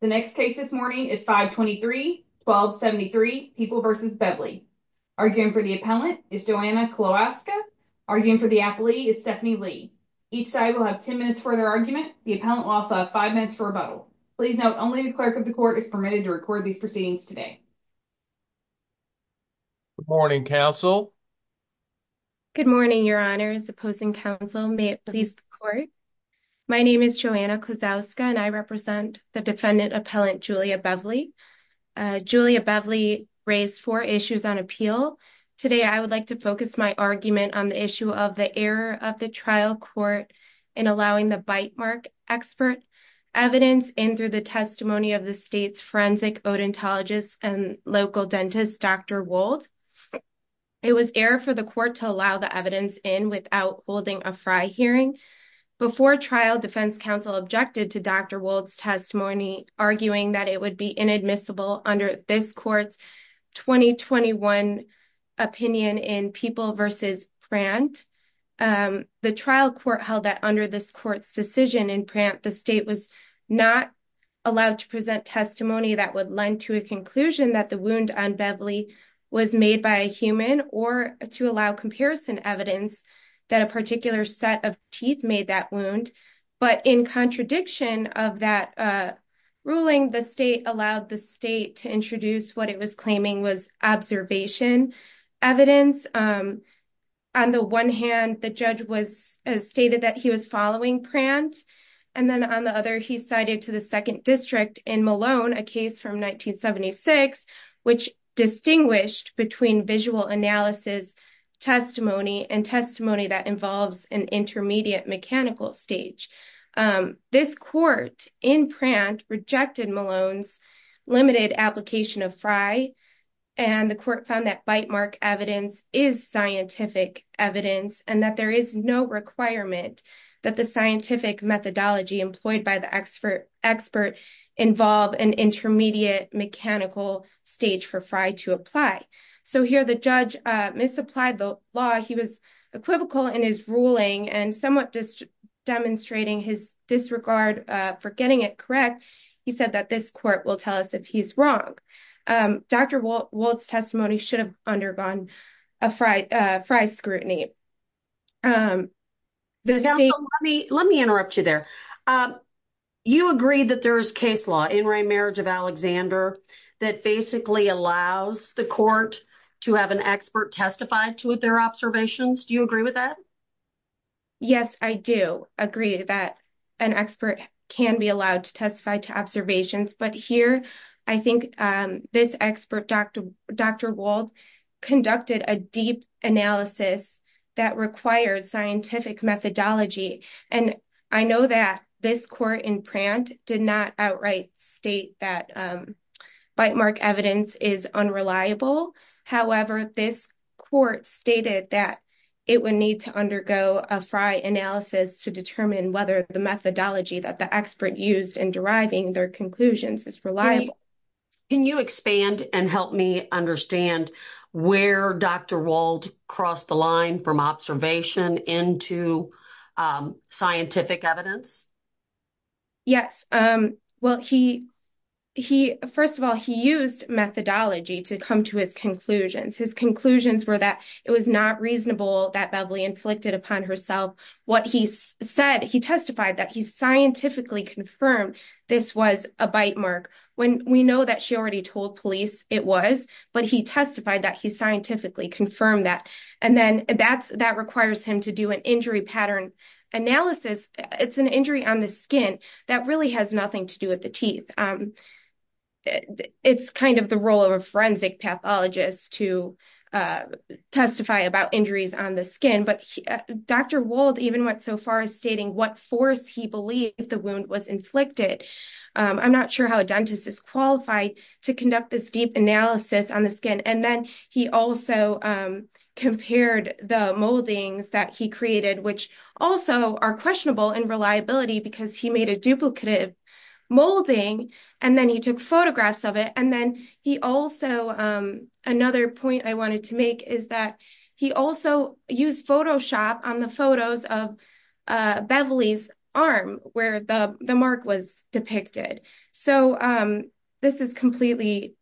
The next case this morning is 523-1273, People v. Bevely. Arguing for the appellant is Joanna Klosowska. Arguing for the appellee is Stephanie Lee. Each side will have 10 minutes for their argument. The appellant will also have five minutes for rebuttal. Please note, only the clerk of the court is permitted to record these proceedings today. Good morning, counsel. Good morning, your honors, opposing counsel, may it please the court. My name is Joanna Klosowska and I represent the defendant appellant Julia Bevely. Julia Bevely raised four issues on appeal. Today I would like to focus my argument on the issue of the error of the trial court in allowing the bite mark expert evidence in through the testimony of the state's forensic odontologist and local dentist, Dr. Wold. It was error for the court to allow the evidence in without holding a F.R.I. hearing. Before trial, defense counsel objected to Dr. Wold's testimony, arguing that it would be inadmissible under this court's 2021 opinion in People v. Prant. The trial court held that under this court's decision in Prant, the state was not allowed to present testimony that would lend to a conclusion that the wound on Bevely was made by a human or to allow comparison evidence that a particular set of teeth made that wound. But in contradiction of that ruling, the state allowed the state to introduce what it was claiming was observation evidence. On the one hand, the judge stated that he was following Prant, and then on the other, he cited to the second district in Malone a case from 1976, which distinguished between visual analysis testimony and testimony that involves an intermediate mechanical stage. This court in Prant rejected Malone's limited application of F.R.I., and the court found that bite mark evidence is scientific evidence and that there is no requirement that the scientific methodology employed by the expert involve an intermediate mechanical stage for F.R.I. to apply. So here the judge misapplied the law. He was equivocal in his ruling and somewhat just demonstrating his disregard for getting it correct. He said that this court will tell us if he's wrong. Dr. Wold's testimony should have undergone F.R.I. scrutiny. Let me interrupt you there. You agree that there is case law in Ray Marriage of Alexander that basically allows the court to have an expert testify to their observations. Do you agree with that? Yes, I do agree that an expert can be allowed to testify to observations. But here I think this expert, Dr. Wold, conducted a deep analysis that required scientific methodology. And I know that this court in Prant did not outright state that bite mark evidence is unreliable. However, this court stated that it would need to undergo a F.R.I. analysis to determine whether the methodology that the expert used in deriving their conclusions is reliable. Can you expand and help me understand where Dr. Wold crossed the line from observation into scientific evidence? Yes. Well, first of all, he used methodology to come to his conclusions. His conclusions were that it was not reasonable that Beverly inflicted upon herself what he He testified that he scientifically confirmed this was a bite mark. We know that she already told police it was, but he testified that he scientifically confirmed that. And then that requires him to do an injury pattern analysis. It's an injury on the skin that really has nothing to do with the teeth. It's kind of the role of a forensic pathologist to testify about injuries on the skin. But Dr. Wold even went so far as stating what force he believed the wound was inflicted. I'm not sure how a dentist is qualified to conduct this deep analysis on the skin. And then he also compared the moldings that he created, which also are questionable in reliability because he made a duplicative molding and then he took photographs of it. And then he also, another point I wanted to make is that he also used Photoshop on the photos of Beverly's arm where the mark was depicted. So this is completely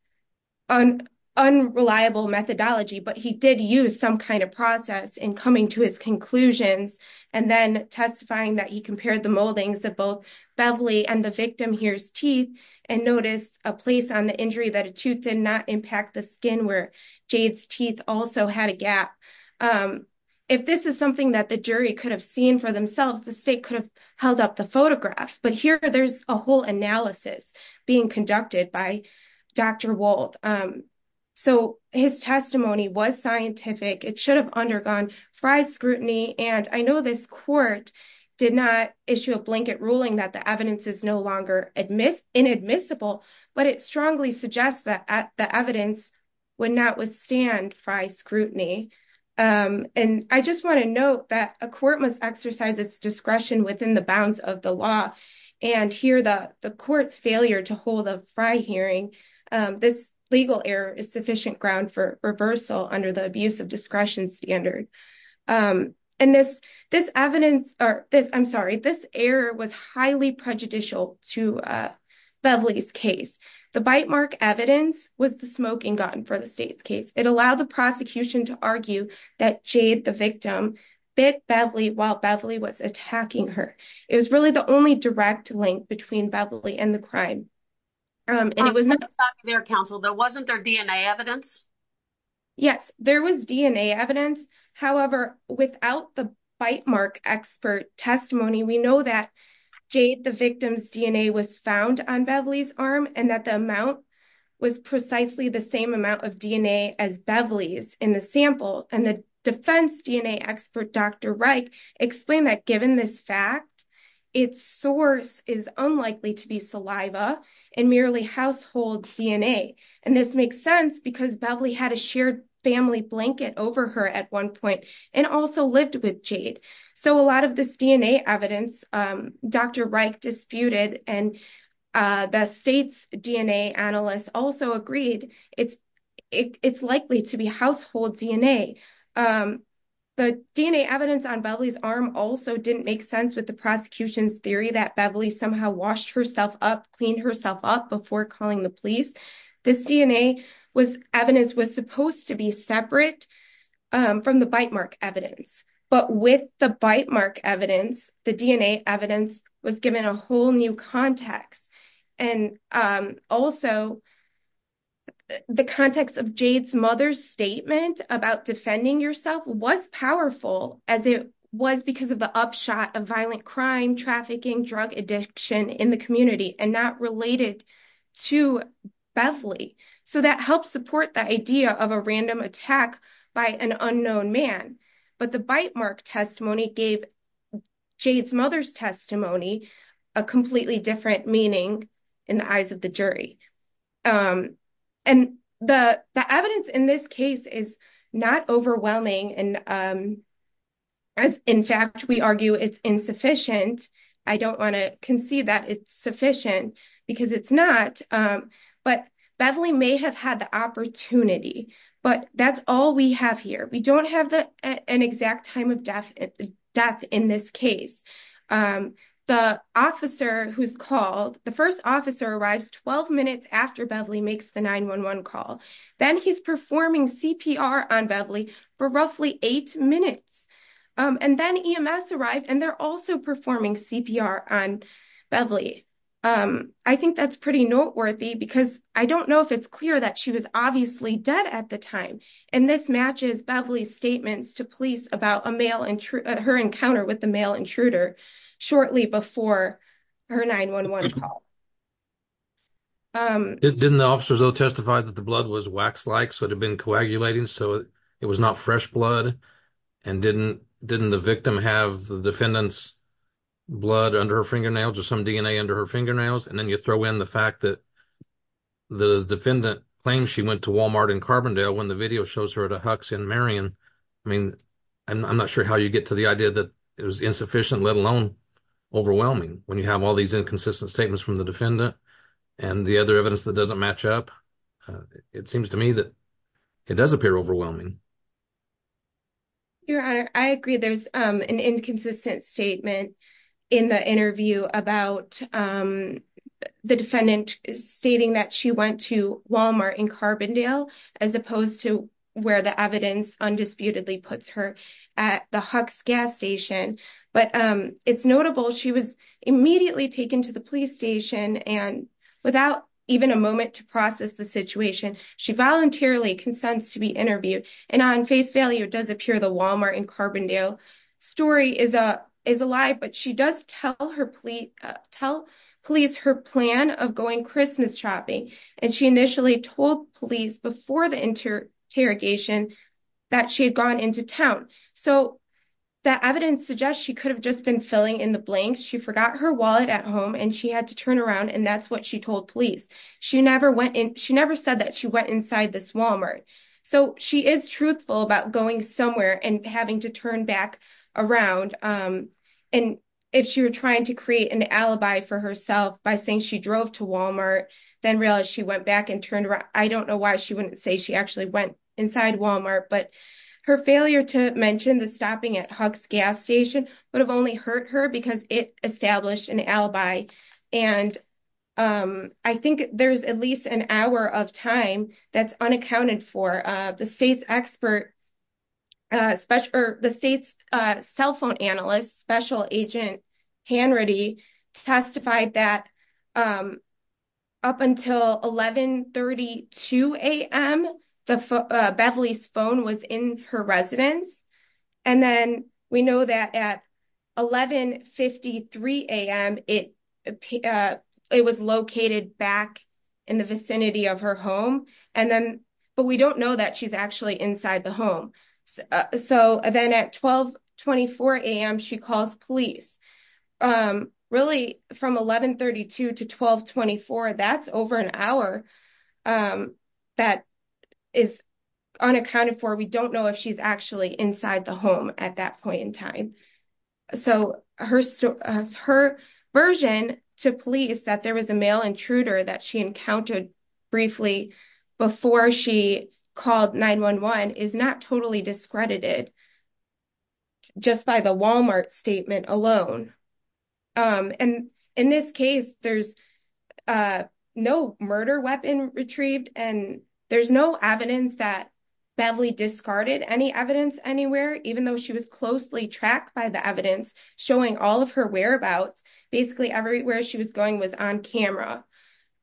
unreliable methodology, but he did use some kind of process in coming to his conclusions and then testifying that he compared the moldings that both Beverly and the victim here's teeth and notice a place on the injury that a tooth did not impact the skin where Jade's teeth also had a gap. If this is something that the jury could have seen for themselves, the state could have held up the photograph. But here there's a whole analysis being conducted by Dr. Wold. So his testimony was scientific. It should have undergone FRI scrutiny. And I know this court did not issue a blanket ruling that the evidence is no longer inadmissible, but it strongly suggests that the evidence would not withstand FRI scrutiny. And I just want to note that a court must exercise its discretion within the bounds of the law. And here the court's failure to hold a FRI hearing, this legal error is sufficient ground for reversal under the abuse of discretion standard. And this this evidence or this I'm sorry, this error was highly prejudicial to Beverly's case. The bite mark evidence was the smoking gun for the state's case. It allowed the prosecution to argue that Jade, the victim, bit Beverly while Beverly was attacking her. It was really the only direct link between Beverly and the crime. And it was not their counsel. There wasn't their DNA evidence. Yes, there was DNA evidence. However, without the bite mark expert testimony, we know that Jade, the victim's DNA was found on Beverly's arm and that the amount was precisely the same amount of DNA as Beverly's in the sample. And the defense DNA expert, Dr. Wright, explained that given this fact, its source is unlikely to be saliva and merely household DNA. And this makes sense because Beverly had a shared family blanket over her at one point and also lived with Jade. So a lot of this DNA evidence, Dr. Wright disputed and the state's DNA analysts also agreed it's it's likely to be household DNA. The DNA evidence on Beverly's arm also didn't make sense with the prosecution's theory that Beverly somehow washed herself up, cleaned herself up before calling the police. This DNA was evidence was supposed to be separate from the bite mark evidence. But with the bite mark evidence, the DNA evidence was given a whole new context. And also. The context of Jade's mother's statement about defending yourself was powerful, as it was because of the upshot of violent crime, trafficking, drug addiction in the community and not related to Beverly. So that helped support the idea of a random attack by an unknown man. But the bite mark testimony gave Jade's mother's testimony a completely different meaning in the eyes of the jury. And the evidence in this case is not overwhelming. And as in fact, we argue it's insufficient. I don't want to concede that it's sufficient because it's not. But Beverly may have had the opportunity, but that's all we have here. We don't have an exact time of death in this case. The officer who's called, the first officer arrives 12 minutes after Beverly makes the 911 call. Then he's performing CPR on Beverly for roughly eight minutes. And then EMS arrived and they're also performing CPR on Beverly. I think that's pretty noteworthy because I don't know if it's clear that she was obviously dead at the time. And this matches Beverly's statements to police about a male intruder, her encounter with the male intruder shortly before her 911 call. Didn't the officers all testify that the blood was wax like, so it had been coagulating, so it was not fresh blood. And didn't the victim have the defendant's blood under her fingernails or some DNA under her fingernails? And then you throw in the fact that the defendant claims she went to Walmart in Carbondale when the video shows her at a Huck's in Marion. I mean, I'm not sure how you get to the idea that it was insufficient, let alone overwhelming when you have all these inconsistent statements from the defendant and the other evidence that doesn't match up. It seems to me that it does appear overwhelming. Your Honor, I agree, there's an inconsistent statement in the interview about the defendant stating that she went to Walmart in Carbondale as opposed to where the evidence undisputedly puts her at the Huck's gas station. But it's notable she was immediately taken to the police station and without even a warrant to process the situation, she voluntarily consents to be interviewed and on face value does appear the Walmart in Carbondale story is a lie. But she does tell her police her plan of going Christmas shopping. And she initially told police before the interrogation that she had gone into town. So that evidence suggests she could have just been filling in the blanks. She forgot her wallet at home and she had to turn around. And that's what she told police. She never went in. She never said that she went inside this Walmart. So she is truthful about going somewhere and having to turn back around. And if she were trying to create an alibi for herself by saying she drove to Walmart, then realized she went back and turned around. I don't know why she wouldn't say she actually went inside Walmart. But her failure to mention the stopping at Huck's gas station would have only hurt her because it established an alibi. And I think there's at least an hour of time that's unaccounted for. The state's expert, the state's cell phone analyst, Special Agent Hannity, testified that up until eleven thirty two a.m., the Beverly's phone was in her residence. And then we know that at eleven fifty three a.m., it it was located back in the vicinity of her home. And then but we don't know that she's actually inside the home. So then at twelve twenty four a.m., she calls police really from eleven thirty two to twelve twenty four. That's over an hour that is unaccounted for. We don't know if she's actually inside the home at that point in time. So her her version to police that there was a male intruder that she encountered briefly before she called 9-1-1 is not totally discredited. Just by the Wal-Mart statement alone and in this case, there's no murder weapon retrieved and there's no evidence that Beverly discarded any evidence anywhere, even though she was closely tracked by the evidence showing all of her whereabouts, basically everywhere she was going was on camera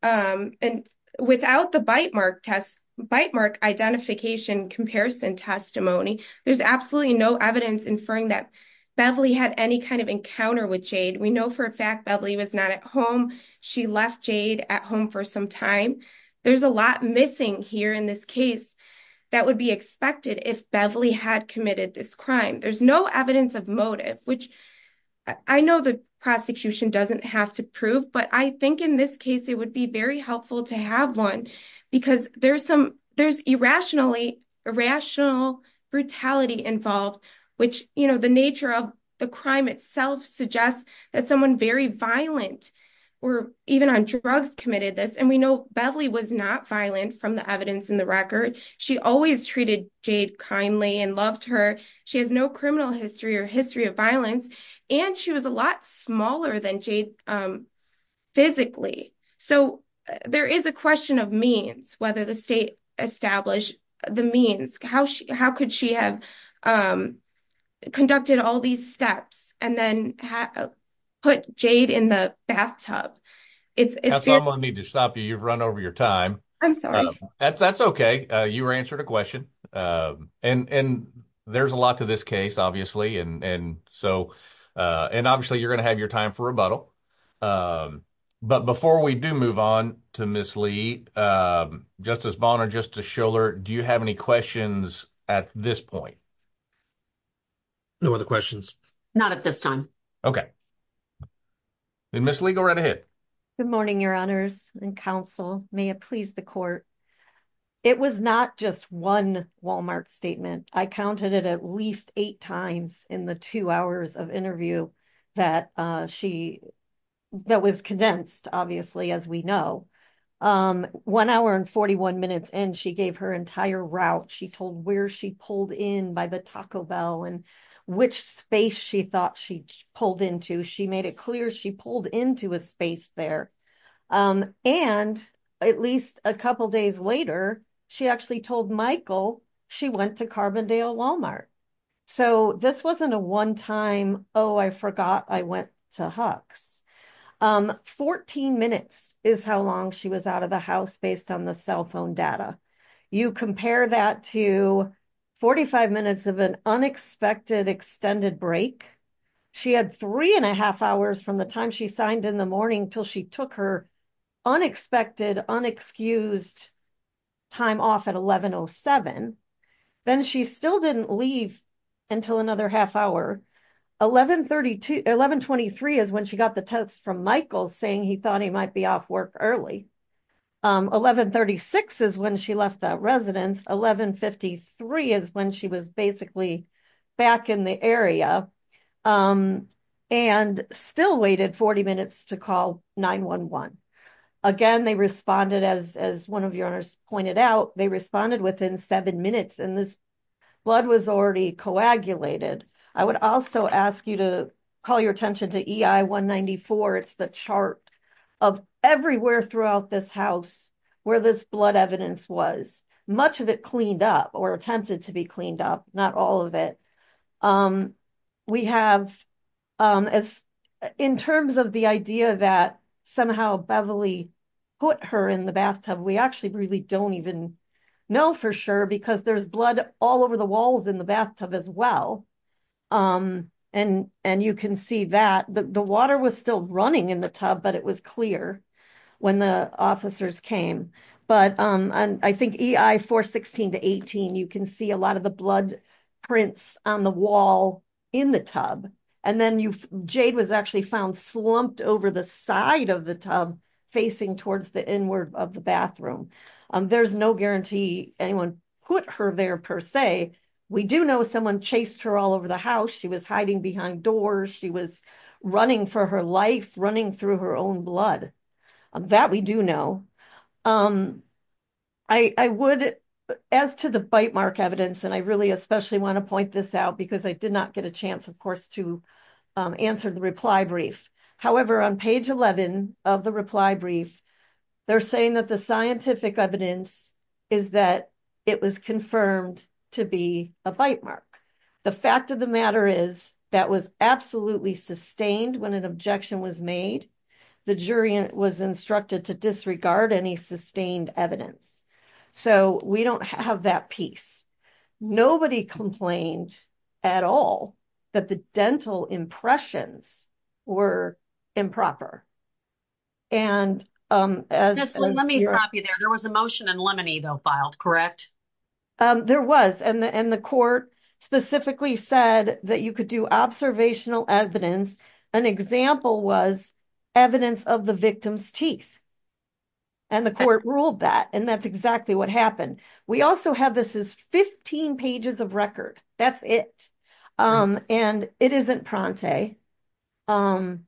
and without the bite mark test, bite mark identification comparison testimony. There's absolutely no evidence inferring that Beverly had any kind of encounter with Jade. We know for a fact Beverly was not at home. She left Jade at home for some time. There's a lot missing here in this case that would be expected if Beverly had committed this crime. There's no evidence of motive, which I know the prosecution doesn't have to prove. But I think in this case, it would be very helpful to have one because there's some there's irrationally irrational brutality involved, which, you know, the nature of the crime itself suggests that someone very violent or even on drugs committed this. And we know Beverly was not violent from the evidence in the record. She always treated Jade kindly and loved her. She has no criminal history or history of violence. And she was a lot smaller than Jade physically. So there is a question of means, whether the state established the means, how could she have conducted all these steps and then put Jade in the bathtub? If I need to stop you, you've run over your time. I'm sorry. That's OK. You were answered a question. And there's a lot to this case, obviously. And so and obviously you're going to have your time for rebuttal. But before we do move on to Miss Lee, Justice Bonner, Justice Schuller, do you have any questions at this point? No other questions. Not at this time. OK. Miss Lee, go right ahead. Good morning, your honors and counsel. May it please the court. It was not just one Wal-Mart statement. I counted it at least eight times in the two hours of interview that she gave. That was condensed, obviously, as we know, one hour and 41 minutes, and she gave her entire route. She told where she pulled in by the Taco Bell and which space she thought she pulled into. She made it clear she pulled into a space there. And at least a couple of days later, she actually told Michael she went to Carbondale Wal-Mart. So this wasn't a one time, oh, I forgot I went to Huck's. Fourteen minutes is how long she was out of the house based on the cell phone data. You compare that to 45 minutes of an unexpected extended break. She had three and a half hours from the time she signed in the morning until she took her unexpected, unexcused time off at 1107. Then she still didn't leave until another half hour. 1123 is when she got the text from Michael saying he thought he might be off work early. 1136 is when she left that residence. 1153 is when she was basically back in the area and still waited 40 minutes to call 911. Again, they responded, as one of the owners pointed out, they responded within seven minutes and this blood was already coagulated. I would also ask you to call your attention to EI 194. It's the chart of everywhere throughout this house where this blood evidence was. Much of it cleaned up or attempted to be cleaned up. Not all of it. We have as in terms of the idea that somehow Beverly put her in the bathtub, we actually really don't even know for sure because there's blood all over the bathtub as well. And you can see that the water was still running in the tub, but it was clear when the officers came. But I think EI 416 to 18, you can see a lot of the blood prints on the wall in the tub. And then Jade was actually found slumped over the side of the tub facing towards the inward of the bathroom. There's no guarantee anyone put her there per se. We do know someone chased her all over the house. She was hiding behind doors. She was running for her life, running through her own blood. That we do know. I would, as to the bite mark evidence, and I really especially want to point this out because I did not get a chance, of course, to answer the reply brief. However, on page 11 of the reply brief, they're saying that the scientific evidence is that it was confirmed to be a bite mark. The fact of the matter is that was absolutely sustained when an objection was made. The jury was instructed to disregard any sustained evidence. So we don't have that piece. Nobody complained at all that the dental impressions were improper. And as. Let me stop you there. There was a motion in Lemony, though, filed, correct? There was. And the court specifically said that you could do observational evidence. An example was evidence of the victim's teeth. And the court ruled that. And that's exactly what happened. We also have this is 15 pages of record. That's it. And it isn't Pronte. I'm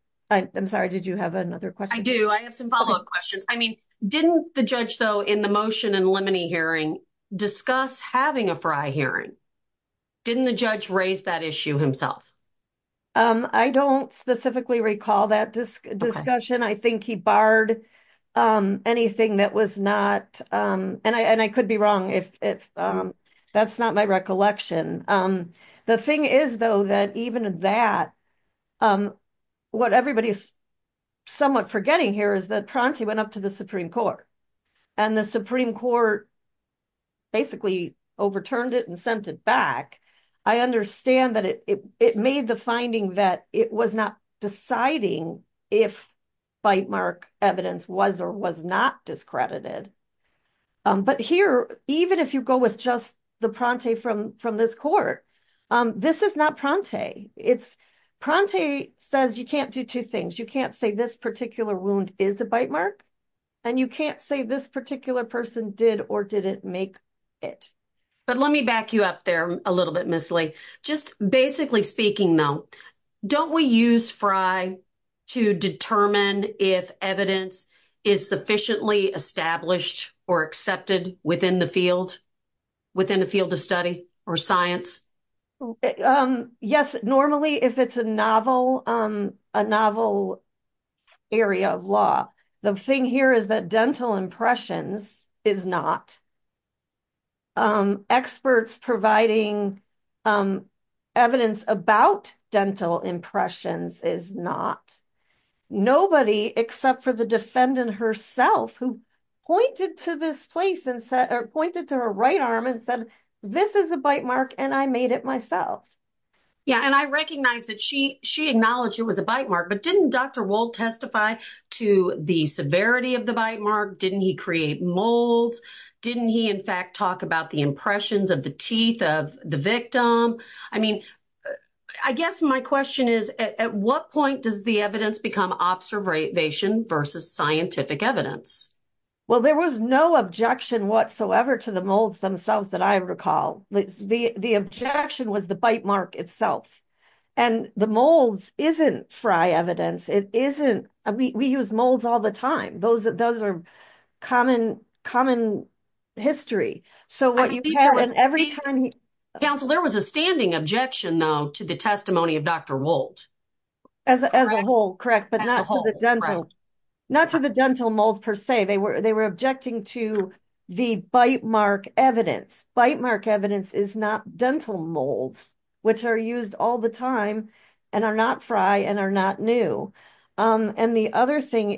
sorry. Did you have another question? I have some follow up questions. I mean, didn't the judge, though, in the motion in Lemony hearing, discuss having a Fry hearing? Didn't the judge raise that issue himself? I don't specifically recall that discussion. I think he barred anything that was not. And I could be wrong if that's not my recollection. The thing is, though, that even that what everybody is somewhat forgetting here is that Pronte went up to the Supreme Court and the Supreme Court. Basically, overturned it and sent it back. I understand that it made the finding that it was not deciding if bite mark evidence was or was not discredited. But here, even if you go with just the Pronte from from this court, this is not Pronte. It's Pronte says you can't do two things. You can't say this particular wound is a bite mark and you can't say this particular person did or didn't make it. But let me back you up there a little bit, Miss Lee. Just basically speaking, though, don't we use Fry to determine if evidence is sufficiently established or accepted within the field within a field of study or science? Yes, normally, if it's a novel a novel area of law, the thing here is that dental impressions is not. Experts providing evidence about dental impressions is not nobody except for the defendant herself who pointed to this place and pointed to her right arm and said, this is a bite mark. And I made it myself. Yeah, and I recognize that she she acknowledged it was a bite mark, but didn't Dr. Didn't he create molds? Didn't he? In fact, talk about the impressions of the teeth of the victim. I mean, I guess my question is, at what point does the evidence become observation versus scientific evidence? Well, there was no objection whatsoever to the molds themselves that I recall. The objection was the bite mark itself and the molds isn't Fry evidence. It isn't. We use molds all the time. Those are those are common, common history. So what you have in every time. Counsel, there was a standing objection, though, to the testimony of Dr. As a whole, correct, but not to the dental not to the dental molds, per se, they were they were objecting to the bite mark evidence bite mark evidence is not dental molds, which are used all the time and are not fry and are not new. And the other thing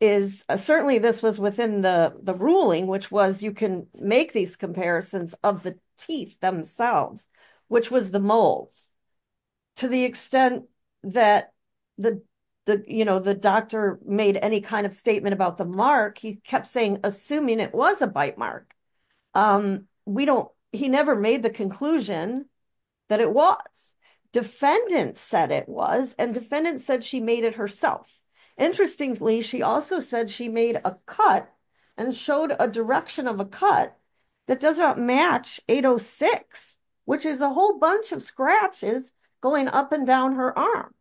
is, certainly this was within the ruling, which was you can make these comparisons of the teeth themselves, which was the molds. To the extent that the the you know the doctor made any kind of statement about the mark. He kept saying, assuming it was a bite mark. We don't he never made the conclusion that it was defendants said it was and defendants said she made it herself. Interestingly, she also said she made a cut. And showed a direction of a cut that doesn't match 806 which is a whole bunch of scratches going up and down her arm.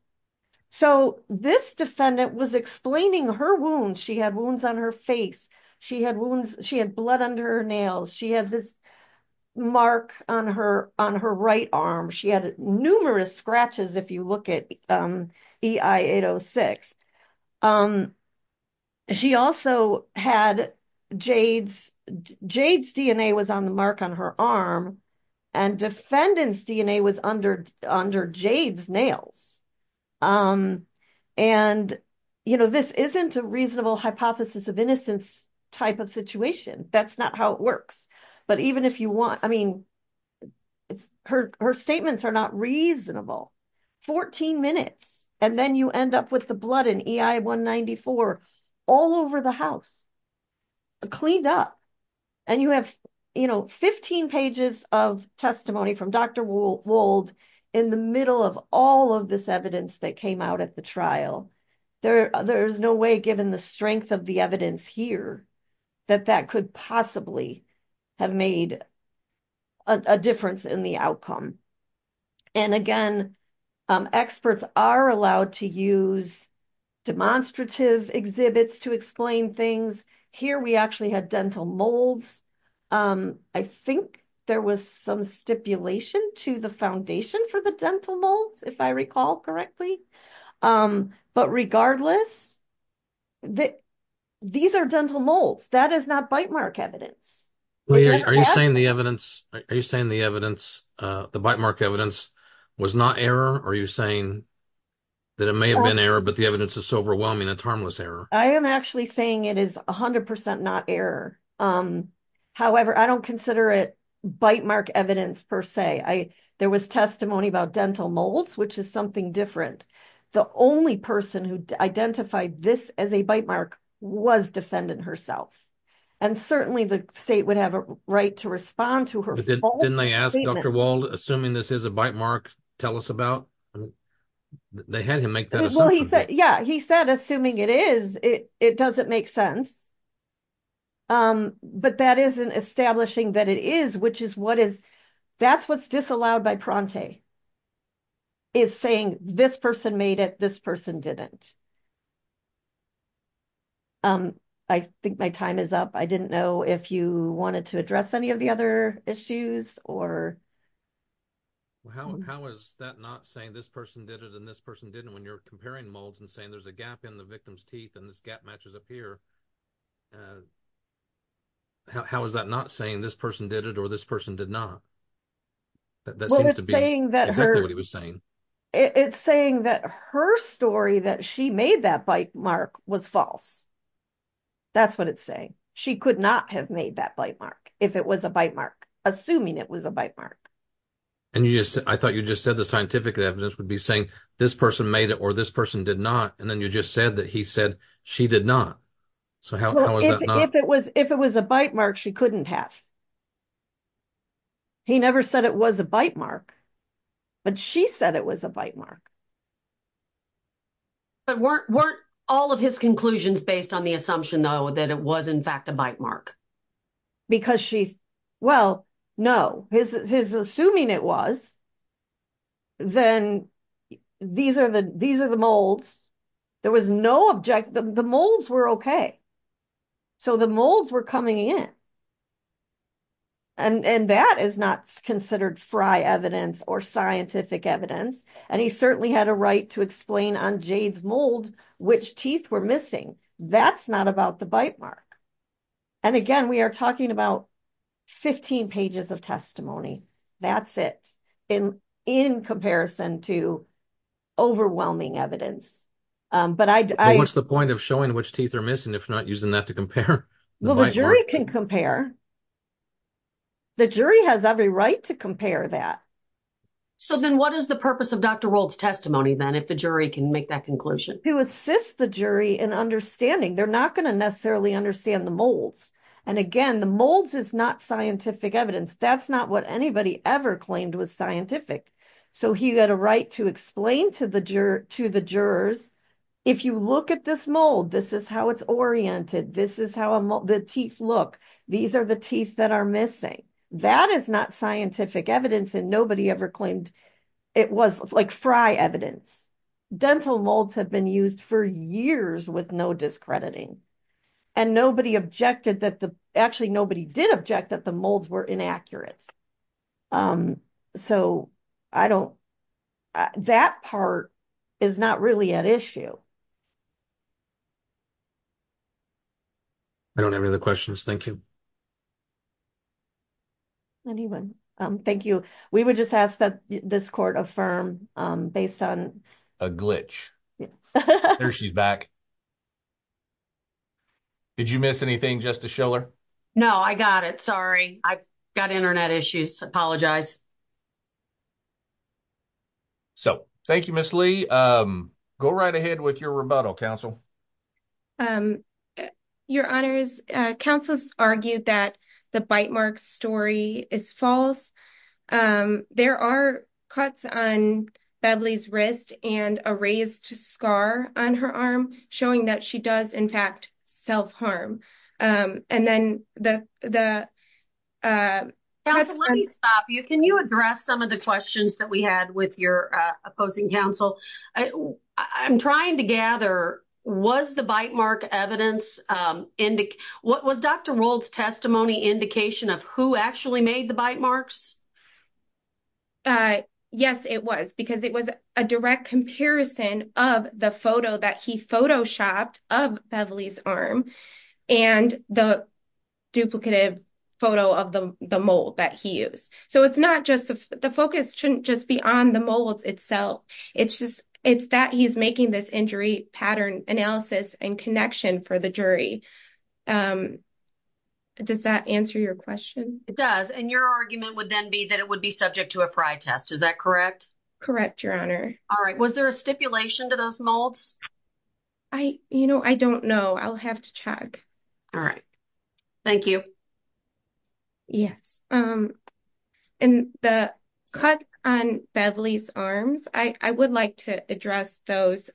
So this defendant was explaining her wounds. She had wounds on her face. She had wounds. She had blood under her nails. She had this mark on her on her right arm. She had numerous scratches. If you look at the 806 Um, she also had Jade's. Jade's DNA was on the mark on her arm and defendants DNA was under under Jade's nails. And, you know, this isn't a reasonable hypothesis of innocence type of situation. That's not how it works. But even if you want. I mean, It's her her statements are not reasonable 14 minutes and then you end up with the blood and EI 194 all over the house. Cleaned up and you have, you know, 15 pages of testimony from Dr. Wold in the middle of all of this evidence that came out at the trial. There, there's no way, given the strength of the evidence here that that could possibly have made A difference in the outcome. And again, experts are allowed to use demonstrative exhibits to explain things here. We actually had dental molds. I think there was some stipulation to the foundation for the dental molds. If I recall correctly. But regardless that these are dental molds that is not bite mark evidence. Are you saying the evidence are you saying the evidence the bite mark evidence was not error. Are you saying that it may have been error, but the evidence is overwhelming. It's harmless error. I am actually saying it is 100% not error. However, I don't consider it bite mark evidence per se. I there was testimony about dental molds, which is something different. The only person who identified this as a bite mark was defendant herself and certainly the state would have a right to respond to her. Didn't they ask Dr. Wold assuming this is a bite mark. Tell us about They had him make that Yeah, he said, assuming it is it, it doesn't make sense. But that isn't establishing that it is, which is what is that's what's disallowed by Pronte. Is saying this person made it. This person didn't. I think my time is up. I didn't know if you wanted to address any of the other issues or. How is that not saying this person did it and this person didn't when you're comparing molds and saying there's a gap in the victim's teeth and this gap matches up here. How is that not saying this person did it or this person did not. That seems to be saying that it's saying that her story that she made that bite mark was false. That's what it's saying. She could not have made that bite mark if it was a bite mark, assuming it was a bite mark. And you just I thought you just said the scientific evidence would be saying this person made it or this person did not. And then you just said that he said she did not. So, how if it was, if it was a bite mark, she couldn't have. He never said it was a bite mark. But she said it was a bite mark, but weren't weren't all of his conclusions based on the assumption though, that it was in fact, a bite mark. Because she's well, no, his, his assuming it was. Then these are the, these are the molds. There was no object, the molds were okay. So, the molds were coming in. And that is not considered fry evidence or scientific evidence, and he certainly had a right to explain on Jade's mold, which teeth were missing. That's not about the bite mark. And again, we are talking about 15 pages of testimony. That's it in in comparison to. Overwhelming evidence, but I, what's the point of showing which teeth are missing? If not using that to compare. Well, the jury can compare the jury has every right to compare that. So, then what is the purpose of Dr world's testimony? Then if the jury can make that conclusion to assist the jury and understanding, they're not going to necessarily understand the molds. And again, the molds is not scientific evidence. That's not what anybody ever claimed was scientific. So he had a right to explain to the juror to the jurors. If you look at this mold, this is how it's oriented. This is how the teeth look. These are the teeth that are missing. That is not scientific evidence and nobody ever claimed. It was like fry evidence, dental molds have been used for years with no discrediting. And nobody objected that the actually, nobody did object that the molds were inaccurate. So, I don't that part. Is not really an issue I don't have any other questions. Thank you. Anyone Thank you we would just ask that this court affirm based on a glitch. Yeah, she's back. Did you miss anything just to show her? No, I got it. Sorry. I got Internet issues. Apologize. So, thank you. Miss Lee go right ahead with your rebuttal council. Your honors councils argued that the bite mark story is false. There are cuts on Beverly's wrist and a raised scar on her arm showing that she does in fact, self harm. And then the. Stop you, can you address some of the questions that we had with your opposing counsel? I'm trying to gather. Was the bite mark evidence what was Dr. world's testimony indication of who actually made the bite marks. Yes, it was because it was a direct comparison of the photo that he photo shopped of Beverly's arm and the. Duplicative photo of the mold that he used, so it's not just the focus shouldn't just be on the molds itself. It's just it's that he's making this injury pattern analysis and connection for the jury. Does that answer your question? It does. And your argument would then be that it would be subject to a test. Is that correct? Correct? Your honor. All right. Was there a stipulation to those molds? I, you know, I don't know. I'll have to check. All right. Thank you. Yes. And the cut on Beverly's arms, I would like to address those.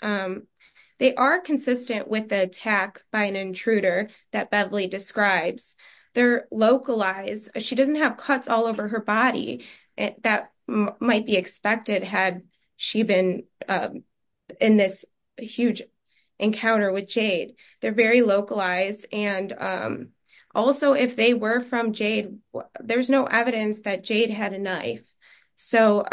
They are consistent with the attack by an intruder that Beverly describes their localized. She doesn't have cuts all over her body. That might be expected had she been in this huge encounter with Jade. They're very localized. And also, if they were from Jade, there's no evidence that Jade had a knife. So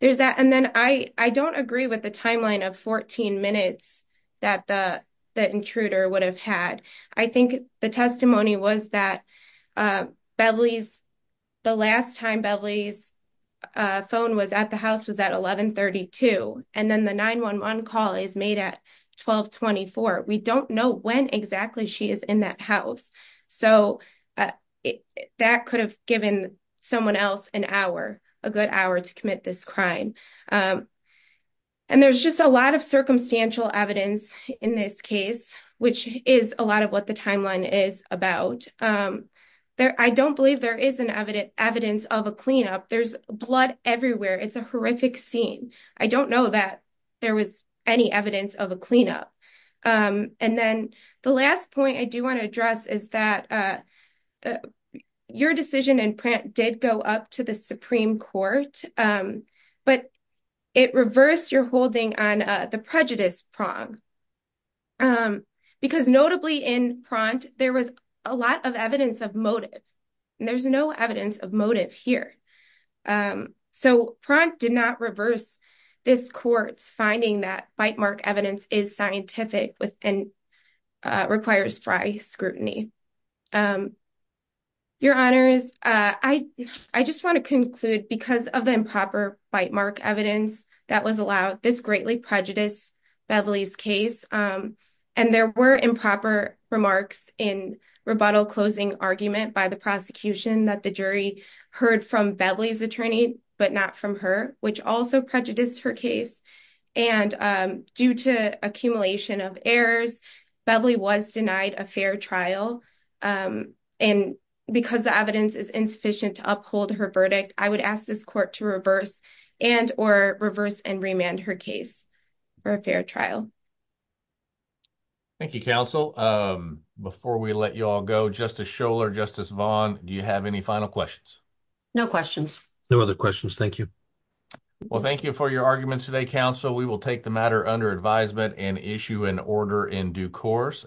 there's that and then I, I don't agree with the timeline of 14 minutes that the intruder would have had. I think the testimony was that. Beverly's the last time Beverly's phone was at the house was at 1132 and then the 911 call is made at 1224. We don't know when exactly she is in that house. So, that could have given someone else an hour a good hour to commit this crime and there's just a lot of circumstantial evidence in this case, which is a lot of what the timeline is about. I don't believe there is an evidence of a cleanup. There's blood everywhere. It's a horrific scene. I don't know that there was any evidence of a cleanup. And then the last point I do want to address is that. Your decision in print did go up to the Supreme Court, but. It reversed your holding on the prejudice prong. Because notably in front, there was a lot of evidence of motive. And there's no evidence of motive here, so did not reverse. This court's finding that bite mark evidence is scientific with and. Requires scrutiny. Your honors, I, I just want to conclude because of the improper bite mark evidence that was allowed this greatly prejudice. Beverly's case, and there were improper remarks in rebuttal closing argument by the prosecution that the jury heard from Beverly's attorney, but not from her, which also prejudice her case. And due to accumulation of errors, Beverly was denied a fair trial. And because the evidence is insufficient to uphold her verdict, I would ask this court to reverse and or reverse and remand her case. For a fair trial, thank you. Counsel before we let you all go, just a show or justice Vaughn. Do you have any final questions? No questions, no other questions. Thank you. Well, thank you for your arguments today. Council. We will take the matter under advisement and issue an order in due course.